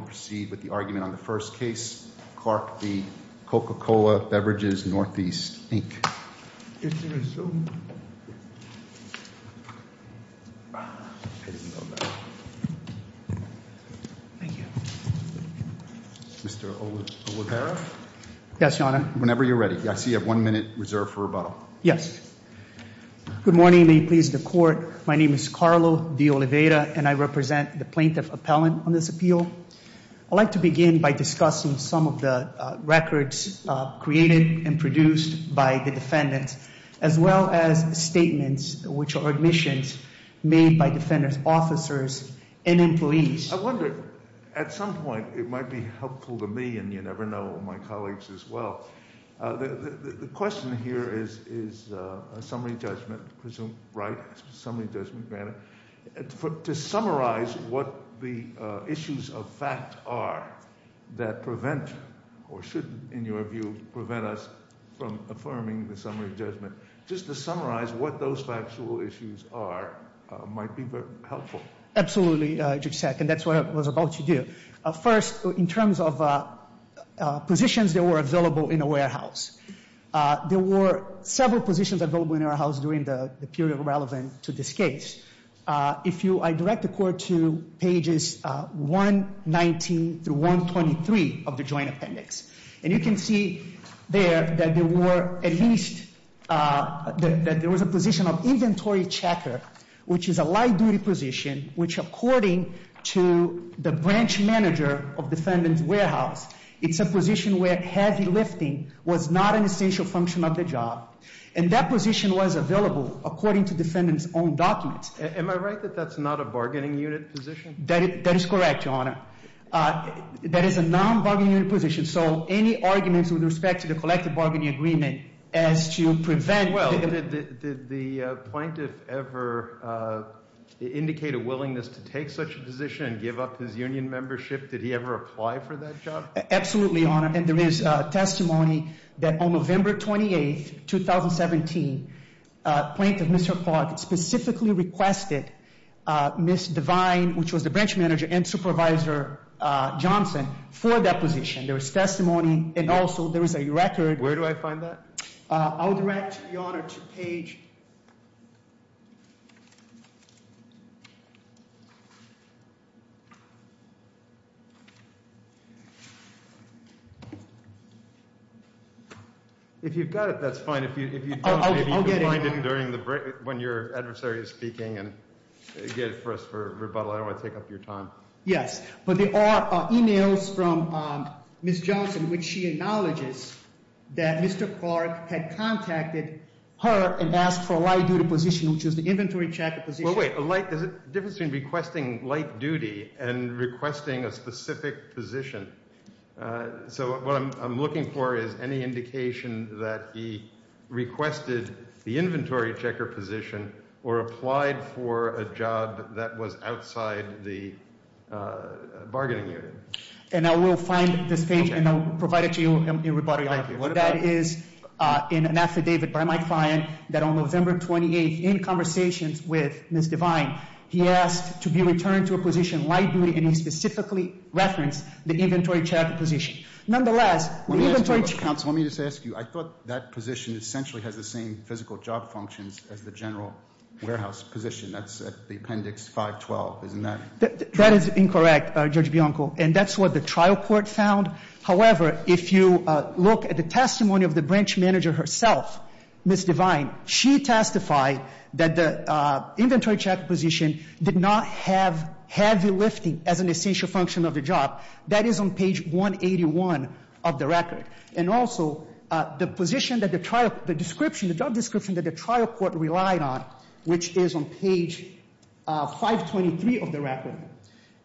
We'll proceed with the argument on the first case. Clark v. Coca-Cola Beverages Northeast, Inc. Mr. Oliveira? Yes, Your Honor. Whenever you're ready. I see you have one minute reserved for rebuttal. Yes. Good morning. May it please the Court. My name is Carlo de Oliveira, and I represent the plaintiff appellant on this appeal. I'd like to begin by discussing some of the records created and produced by the defendants, as well as statements, which are admissions, made by defendant's officers and employees. I wonder, at some point, it might be helpful to me, and you never know my colleagues as well. The question here is a summary judgment, presumed right, summary judgment manner. To summarize what the issues of fact are that prevent, or should, in your view, prevent us from affirming the summary judgment. Just to summarize what those factual issues are might be very helpful. Absolutely, Judge Sack, and that's what I was about to do. First, in terms of positions that were available in a warehouse. There were several positions available in a warehouse during the period relevant to this case. If you, I direct the Court to pages 119 through 123 of the Joint Appendix. And you can see there that there were at least, that there was a position of inventory checker, which is a light duty position. Which according to the branch manager of defendant's warehouse, it's a position where heavy lifting was not an essential function of the job. And that position was available according to defendant's own documents. Am I right that that's not a bargaining unit position? That is correct, Your Honor. That is a non-bargaining unit position. So any arguments with respect to the collective bargaining agreement as to prevent- Well, did the plaintiff ever indicate a willingness to take such a position and give up his union membership? Did he ever apply for that job? Absolutely, Your Honor. And there is testimony that on November 28th, 2017, plaintiff, Mr. Clark, specifically requested Ms. Devine, which was the branch manager and supervisor Johnson, for that position. There is testimony and also there is a record- Where do I find that? I'll direct, Your Honor, to page- If you've got it, that's fine. If you don't, maybe you can find it during the break when your adversary is speaking and get it for us for rebuttal. I don't want to take up your time. Yes, but there are emails from Ms. Johnson which she acknowledges that Mr. Clark had contacted her and asked for a light duty position, which is the inventory checker position. Well, wait. There's a difference between requesting light duty and requesting a specific position. So what I'm looking for is any indication that he requested the inventory checker position or applied for a job that was outside the bargaining unit. And I will find this page and I'll provide it to you in rebuttal. Thank you. That is in an affidavit by my client that on November 28th, in conversations with Ms. Devine, he asked to be returned to a position light duty and he specifically referenced the inventory checker position. Nonetheless- Let me just ask you. I thought that position essentially has the same physical job functions as the general warehouse position. That's at the appendix 512, isn't that- That is incorrect, Judge Bianco. And that's what the trial court found. However, if you look at the testimony of the branch manager herself, Ms. Devine, she testified that the inventory checker position did not have heavy lifting as an essential function of the job. That is on page 181 of the record. And also, the position that the trial, the description, the job description that the trial court relied on, which is on page 523 of the record,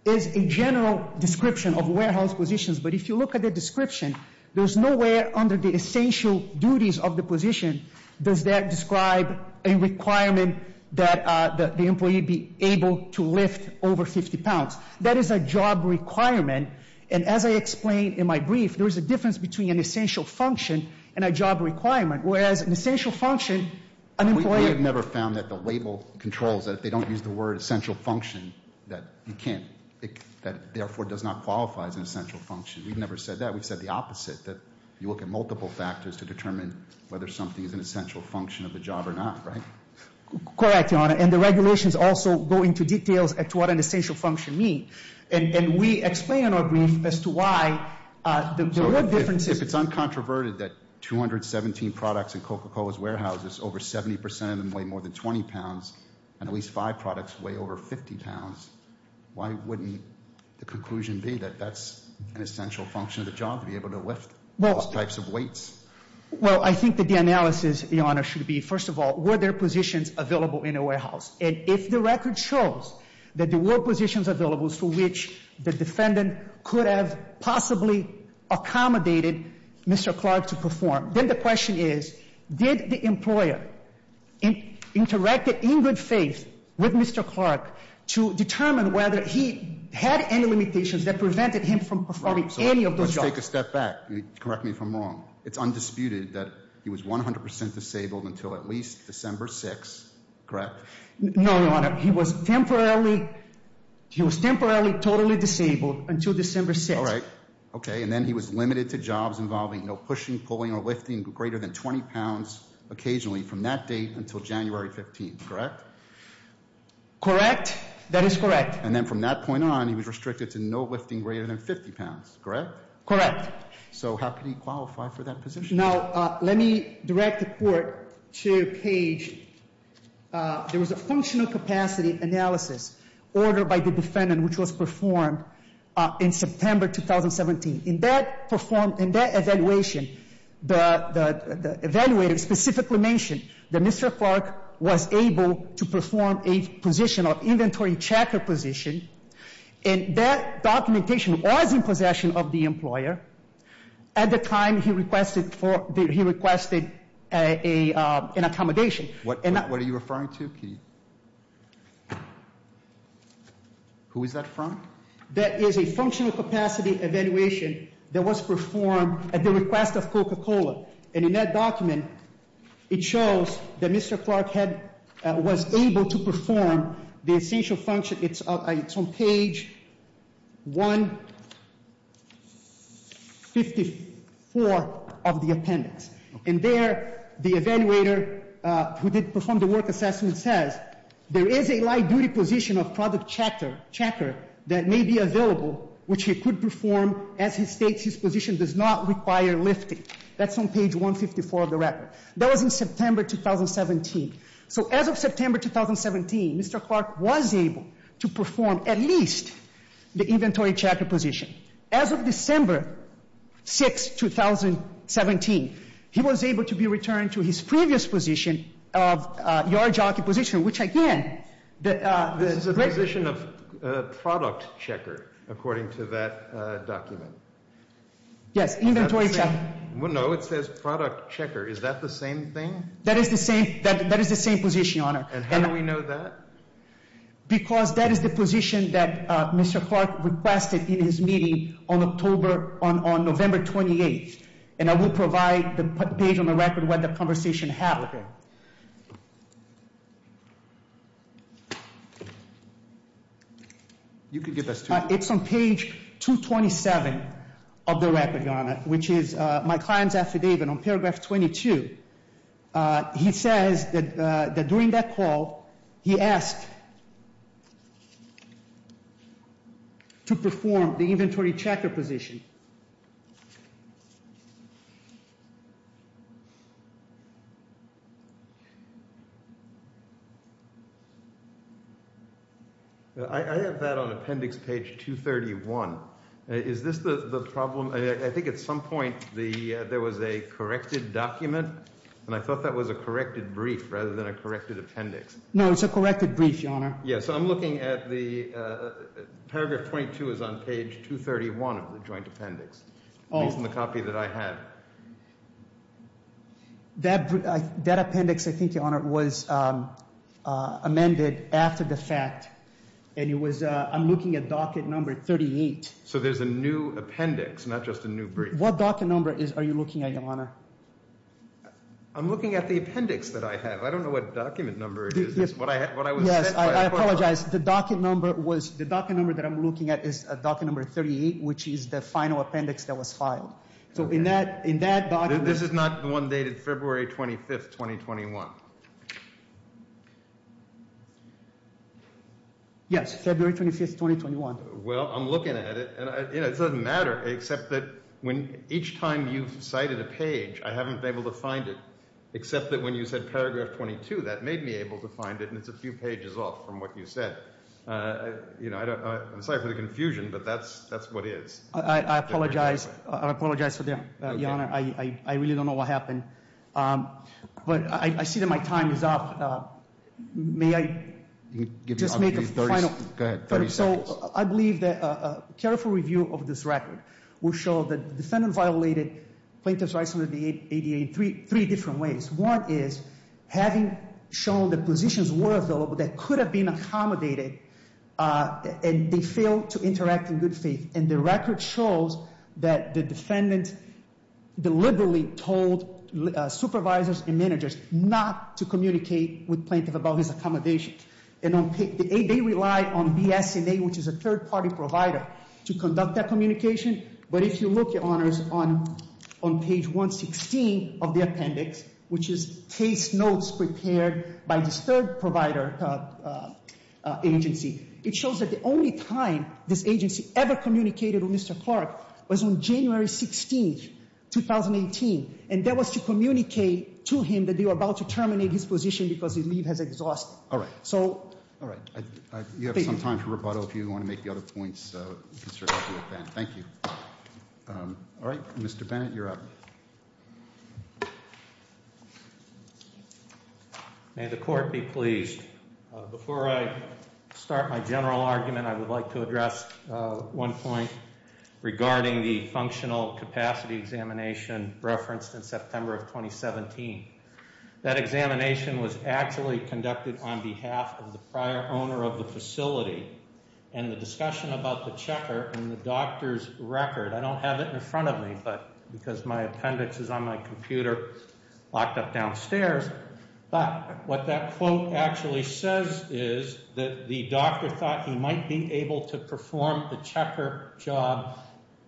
is a general description of warehouse positions. But if you look at the description, there's nowhere under the essential duties of the position does that describe a requirement that the employee be able to lift over 50 pounds. That is a job requirement. And as I explained in my brief, there is a difference between an essential function and a job requirement. Whereas an essential function, an employee- controls that if they don't use the word essential function, that you can't- that therefore does not qualify as an essential function. We've never said that. We've said the opposite, that you look at multiple factors to determine whether something is an essential function of the job or not, right? Correct, Your Honor. And the regulations also go into details as to what an essential function means. And we explain in our brief as to why the real differences- and at least five products weigh over 50 pounds. Why wouldn't the conclusion be that that's an essential function of the job, to be able to lift those types of weights? Well, I think that the analysis, Your Honor, should be, first of all, were there positions available in a warehouse? And if the record shows that there were positions available for which the defendant could have possibly accommodated Mr. Clark to perform, then the question is, did the employer interact in good faith with Mr. Clark to determine whether he had any limitations that prevented him from performing any of those jobs? Let's take a step back. Correct me if I'm wrong. It's undisputed that he was 100 percent disabled until at least December 6th, correct? No, Your Honor. He was temporarily totally disabled until December 6th. All right. Okay, and then he was limited to jobs involving no pushing, pulling, or lifting greater than 20 pounds occasionally from that date until January 15th, correct? Correct. That is correct. And then from that point on, he was restricted to no lifting greater than 50 pounds, correct? Correct. So how could he qualify for that position? Now, let me direct the Court to Page. There was a functional capacity analysis ordered by the defendant which was performed in September 2017. In that evaluation, the evaluator specifically mentioned that Mr. Clark was able to perform a position of inventory checker position. And that documentation was in possession of the employer. At the time, he requested an accommodation. What are you referring to, Kitty? Who is that from? That is a functional capacity evaluation that was performed at the request of Coca-Cola. And in that document, it shows that Mr. Clark was able to perform the essential function. It's on Page 154 of the appendix. And there, the evaluator who did perform the work assessment says, there is a light-duty position of product checker that may be available which he could perform as he states his position does not require lifting. That's on Page 154 of the record. That was in September 2017. So as of September 2017, Mr. Clark was able to perform at least the inventory checker position. As of December 6, 2017, he was able to be returned to his previous position of yard jockey position, which again... This is a position of product checker, according to that document. Yes, inventory checker. No, it says product checker. Is that the same thing? That is the same position, Your Honor. And how do we know that? Because that is the position that Mr. Clark requested in his meeting on November 28. And I will provide the page on the record where the conversation happened. You can give us... It's on Page 227 of the record, Your Honor, which is my client's affidavit on paragraph 22. He says that during that call, he asked to perform the inventory checker position. I have that on Appendix Page 231. Is this the problem? I think at some point there was a corrected document, and I thought that was a corrected brief rather than a corrected appendix. No, it's a corrected brief, Your Honor. So I'm looking at the... Paragraph 22 is on Page 231 of the joint appendix. Based on the copy that I have. That appendix, I think, Your Honor, was amended after the fact. And it was... I'm looking at docket number 38. So there's a new appendix, not just a new brief. What docket number are you looking at, Your Honor? I'm looking at the appendix that I have. I don't know what document number it is. Yes, I apologize. The docket number that I'm looking at is docket number 38, which is the final appendix that was filed. So in that docket... This is not the one dated February 25th, 2021. Yes, February 25th, 2021. Well, I'm looking at it, and it doesn't matter, except that each time you've cited a page, I haven't been able to find it. Except that when you said paragraph 22, that made me able to find it, and it's a few pages off from what you said. I'm sorry for the confusion, but that's what it is. I apologize. I apologize for that, Your Honor. I really don't know what happened. But I see that my time is up. May I just make a final... Go ahead, 30 seconds. I believe that a careful review of this record will show that the defendant violated plaintiff's rights under the ADA in three different ways. One is having shown the positions where they could have been accommodated, and they failed to interact in good faith. And the record shows that the defendant deliberately told supervisors and managers not to communicate with plaintiff about his accommodation. They relied on BSNA, which is a third-party provider, to conduct that communication. But if you look, Your Honors, on page 116 of the appendix, which is case notes prepared by this third-provider agency, it shows that the only time this agency ever communicated with Mr. Clark was on January 16th, 2018. And that was to communicate to him that they were about to terminate his position because his leave has exhausted. All right. So... All right. You have some time for rebuttal if you want to make the other points, Mr. Hathaway-Bennett. Thank you. All right. Mr. Bennett, you're up. May the Court be pleased. Before I start my general argument, I would like to address one point regarding the functional capacity examination referenced in September of 2017. That examination was actually conducted on behalf of the prior owner of the facility. And the discussion about the checker and the doctor's record, I don't have it in front of me because my appendix is on my computer locked up downstairs. But what that quote actually says is that the doctor thought he might be able to perform the checker job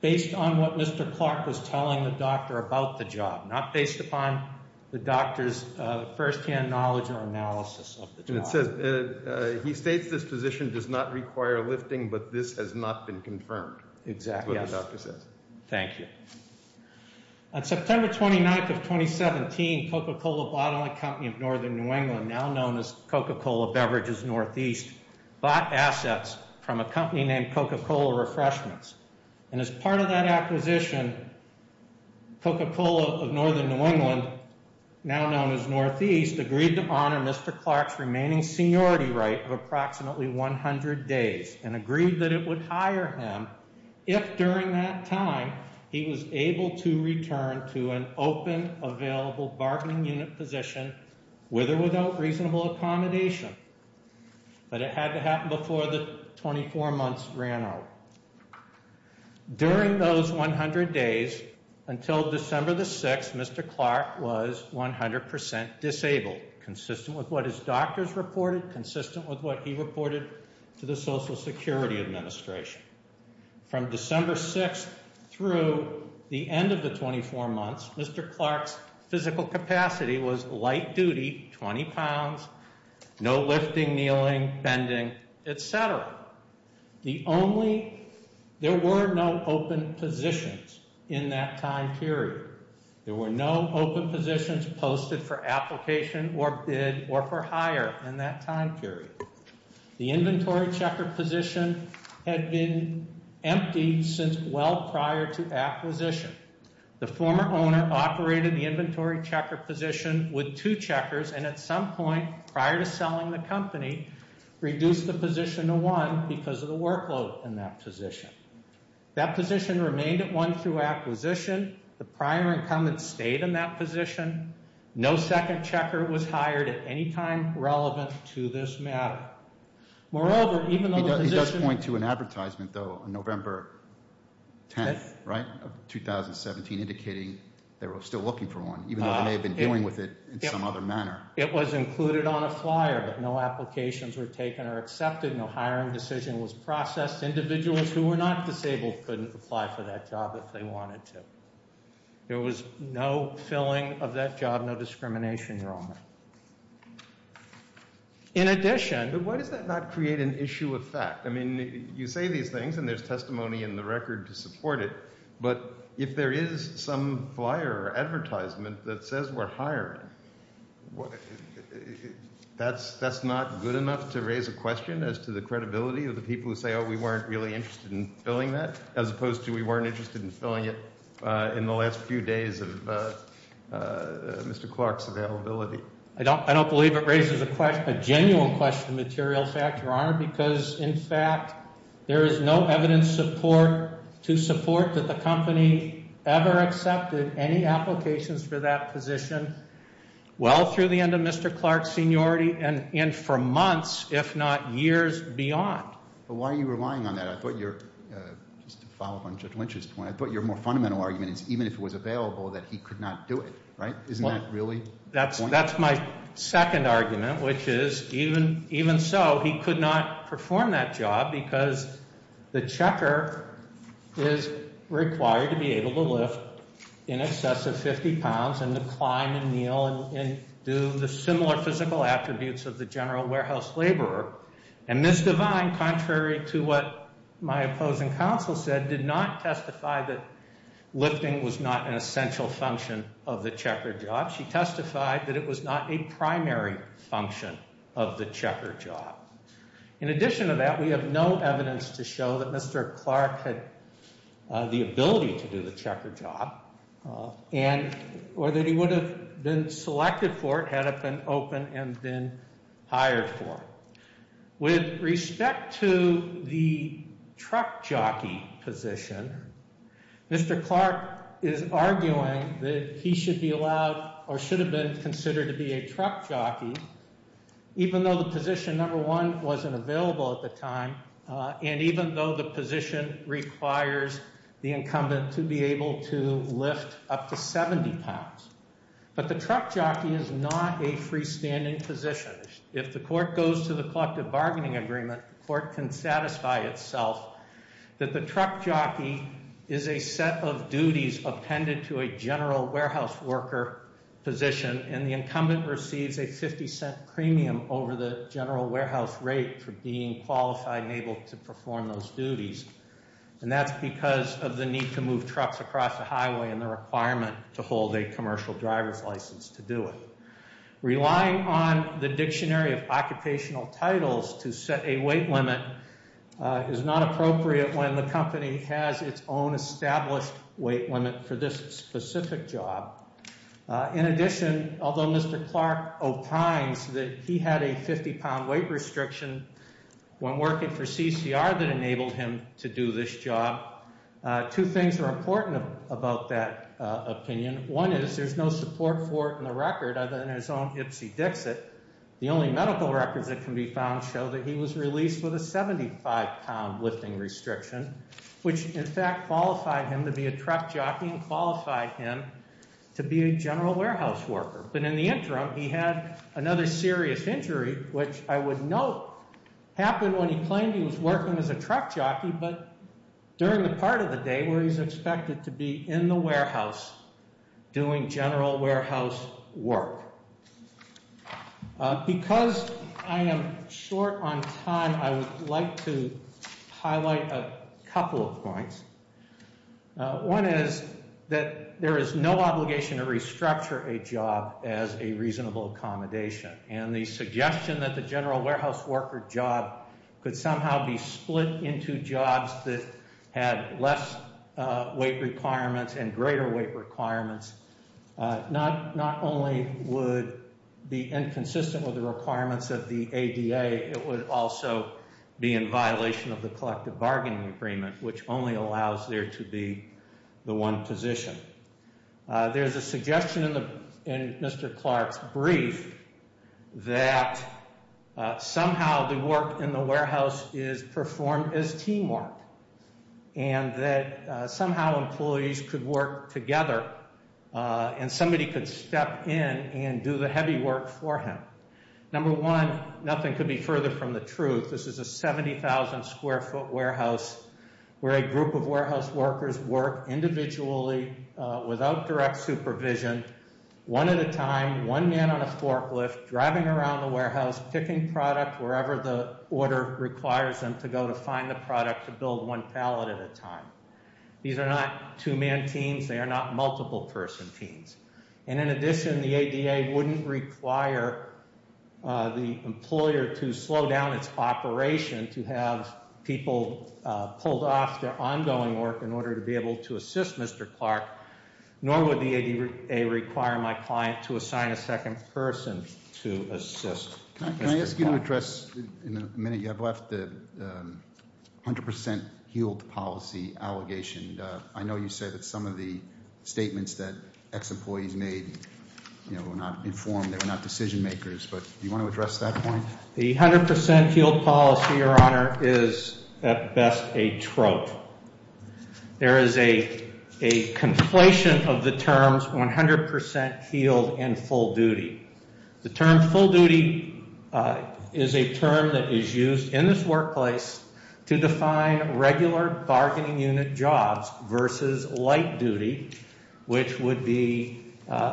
based on what Mr. Clark was telling the doctor about the job, not based upon the doctor's firsthand knowledge or analysis of the job. It says, he states this position does not require lifting, but this has not been confirmed. Exactly. That's what the doctor says. Thank you. On September 29th of 2017, Coca-Cola Bottling Company of Northern New England, now known as Coca-Cola Beverages Northeast, bought assets from a company named Coca-Cola Refreshments. And as part of that acquisition, Coca-Cola of Northern New England, now known as Northeast, agreed to honor Mr. Clark's remaining seniority right of approximately 100 days, and agreed that it would hire him if, during that time, he was able to return to an open, available bargaining unit position, with or without reasonable accommodation. But it had to happen before the 24 months ran out. During those 100 days, until December the 6th, Mr. Clark was 100% disabled, consistent with what his doctors reported, consistent with what he reported to the Social Security Administration. From December 6th through the end of the 24 months, Mr. Clark's physical capacity was light duty, 20 pounds, no lifting, kneeling, bending, etc. The only, there were no open positions in that time period. There were no open positions posted for application or bid or for hire in that time period. The inventory checker position had been emptied since well prior to acquisition. The former owner operated the inventory checker position with two checkers, and at some point prior to selling the company, reduced the position to one because of the workload in that position. That position remained at one through acquisition. The prior incumbent stayed in that position. No second checker was hired at any time relevant to this matter. Moreover, even though the position... He does point to an advertisement, though, on November 10th, right, of 2017, indicating they were still looking for one, even though they may have been dealing with it in some other manner. It was included on a flyer, but no applications were taken or accepted. No hiring decision was processed. Individuals who were not disabled couldn't apply for that job if they wanted to. There was no filling of that job, no discrimination. In addition... But why does that not create an issue of fact? I mean, you say these things, and there's testimony in the record to support it, but if there is some flyer or advertisement that says we're hiring, that's not good enough to raise a question as to the credibility of the people who say, oh, we weren't really interested in filling that, as opposed to we weren't interested in filling it in the last few days of Mr. Clark's availability. I don't believe it raises a genuine question of material fact, Your Honor, because, in fact, there is no evidence to support that the company ever accepted any applications for that position well through the end of Mr. Clark's seniority and for months, if not years, beyond. But why are you relying on that? I thought your, just to follow up on Judge Lynch's point, I thought your more fundamental argument is even if it was available that he could not do it, right? Isn't that really the point? That's my second argument, which is even so, he could not perform that job because the checker is required to be able to lift in excess of 50 pounds and to climb and kneel and do the similar physical attributes of the general warehouse laborer. And Ms. Devine, contrary to what my opposing counsel said, did not testify that lifting was not an essential function of the checker job. She testified that it was not a primary function of the checker job. In addition to that, we have no evidence to show that Mr. Clark had the ability to do the checker job or that he would have been selected for it had it been open and been hired for it. With respect to the truck jockey position, Mr. Clark is arguing that he should be allowed or should have been considered to be a truck jockey even though the position number one wasn't available at the time and even though the position requires the incumbent to be able to lift up to 70 pounds. But the truck jockey is not a freestanding position. If the court goes to the collective bargaining agreement, the court can satisfy itself that the truck jockey is a set of duties appended to a general warehouse worker position and the incumbent receives a 50 cent premium over the general warehouse rate for being qualified and able to perform those duties. And that's because of the need to move trucks across the highway and the requirement to hold a commercial driver's license to do it. Relying on the dictionary of occupational titles to set a weight limit is not appropriate when the company has its own established weight limit for this specific job. In addition, although Mr. Clark opines that he had a 50 pound weight restriction when working for CCR that enabled him to do this job, two things are important about that opinion. One is there's no support for it in the record other than his own Ipsy Dixit. The only medical records that can be found show that he was released with a 75 pound lifting restriction, which in fact qualified him to be a truck jockey and qualified him to be a general warehouse worker. But in the interim, he had another serious injury, which I would note happened when he claimed he was working as a truck jockey, but during the part of the day where he's expected to be in the warehouse doing general warehouse work. Because I am short on time, I would like to highlight a couple of points. One is that there is no obligation to restructure a job as a reasonable accommodation. And the suggestion that the general warehouse worker job could somehow be split into jobs that had less weight requirements and greater weight requirements not only would be inconsistent with the requirements of the ADA, it would also be in violation of the collective bargaining agreement, which only allows there to be the one position. There's a suggestion in Mr. Clark's brief that somehow the work in the warehouse is performed as teamwork and that somehow employees could work together and somebody could step in and do the heavy work for him. Number one, nothing could be further from the truth. This is a 70,000 square foot warehouse where a group of warehouse workers work individually without direct supervision, one at a time, one man on a forklift, driving around the warehouse, picking product wherever the order requires them to go to find the product to build one pallet at a time. These are not two man teams, they are not multiple person teams. And in addition, the ADA wouldn't require the employer to slow down its operation to have people pulled off their ongoing work in order to be able to assist Mr. Clark, nor would the ADA require my client to assign a second person to assist Mr. Clark. Can I ask you to address, in the minute you have left, the 100% yield policy allegation? I know you said that some of the statements that ex-employees made were not informed, they were not decision makers, but do you want to address that point? The 100% yield policy, Your Honor, is at best a trope. There is a conflation of the terms 100% yield and full duty. The term full duty is a term that is used in this workplace to define regular bargaining unit jobs versus light duty, which would be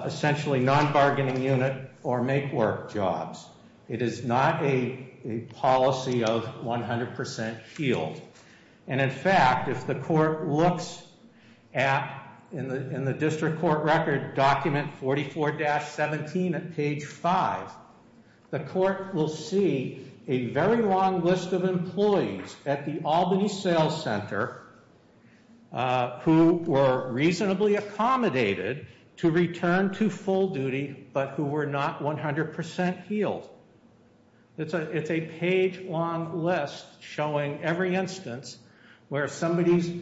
essentially non-bargaining unit or make work jobs. It is not a policy of 100% yield. And in fact, if the court looks at, in the district court record document 44-17 at page 5, the court will see a very long list of employees at the Albany Sales Center who were reasonably accommodated to return to full duty, but who were not 100% yield. It's a page-long list showing every instance where somebody's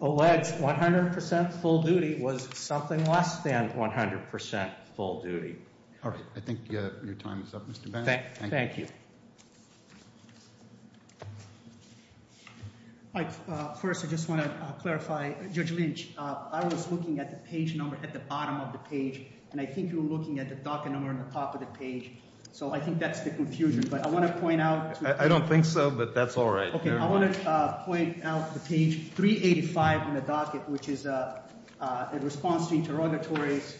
alleged 100% full duty was something less than 100% full duty. All right. I think your time is up, Mr. Bannon. Thank you. First, I just want to clarify. Judge Lynch, I was looking at the page number at the bottom of the page, and I think you were looking at the docket number on the top of the page. So I think that's the confusion. But I want to point out— I don't think so, but that's all right. Okay. I want to point out the page 385 in the docket, which is a response to interrogatories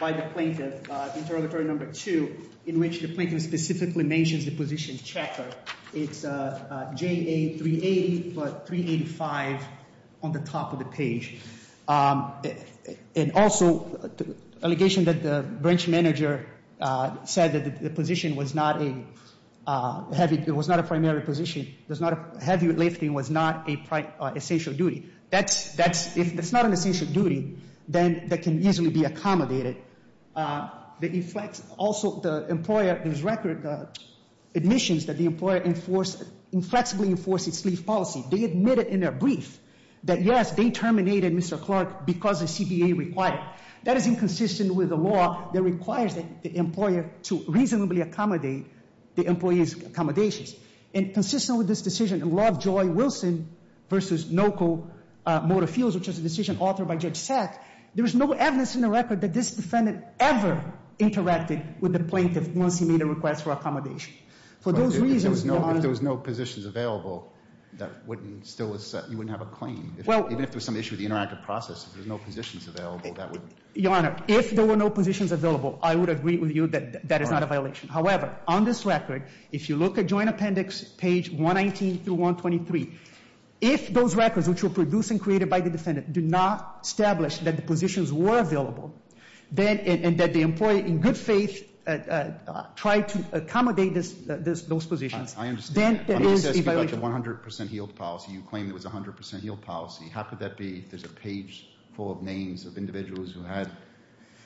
by the plaintiff, interrogatory number 2, in which the plaintiff specifically mentions the position checker. And also the allegation that the branch manager said that the position was not a heavy—it was not a primary position. Heavy lifting was not an essential duty. That's—if it's not an essential duty, then that can easily be accommodated. It inflects—also, the employer— there's record admissions that the employer inflexibly enforced its leave policy. They admitted in their brief that, yes, they terminated Mr. Clark because the CBA required it. That is inconsistent with the law that requires the employer to reasonably accommodate the employee's accommodations. And consistent with this decision in Law of Joy Wilson v. Noco Motor Fuels, which is a decision authored by Judge Sack, there is no evidence in the record that this defendant ever interacted with the plaintiff once he made a request for accommodation. For those reasons— Even if there was no positions available, that wouldn't still—you wouldn't have a claim. Even if there was some issue with the interactive process, if there's no positions available, that would— Your Honor, if there were no positions available, I would agree with you that that is not a violation. However, on this record, if you look at Joint Appendix page 119 through 123, if those records, which were produced and created by the defendant, do not establish that the positions were available, then—and that the employee, in good faith, tried to accommodate those positions. I understand that. Then there is a violation. If you look at the 100 percent yield policy, you claim it was a 100 percent yield policy. How could that be if there's a page full of names of individuals who had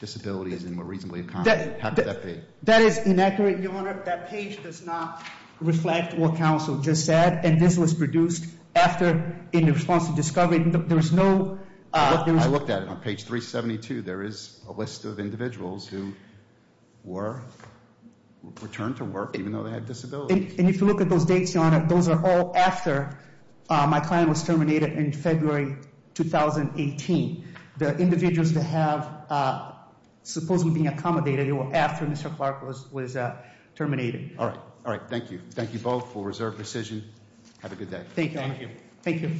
disabilities and were reasonably accommodated? How could that be? That is inaccurate, Your Honor. That page does not reflect what counsel just said. And this was produced after, in response to discovery, there was no— I looked at it. On page 372, there is a list of individuals who were returned to work, even though they had disabilities. And if you look at those dates, Your Honor, those are all after my client was terminated in February 2018. The individuals that have supposedly been accommodated, they were after Mr. Clark was terminated. All right. All right. Thank you. Thank you both for reserved precision. Have a good day. Thank you. Thank you.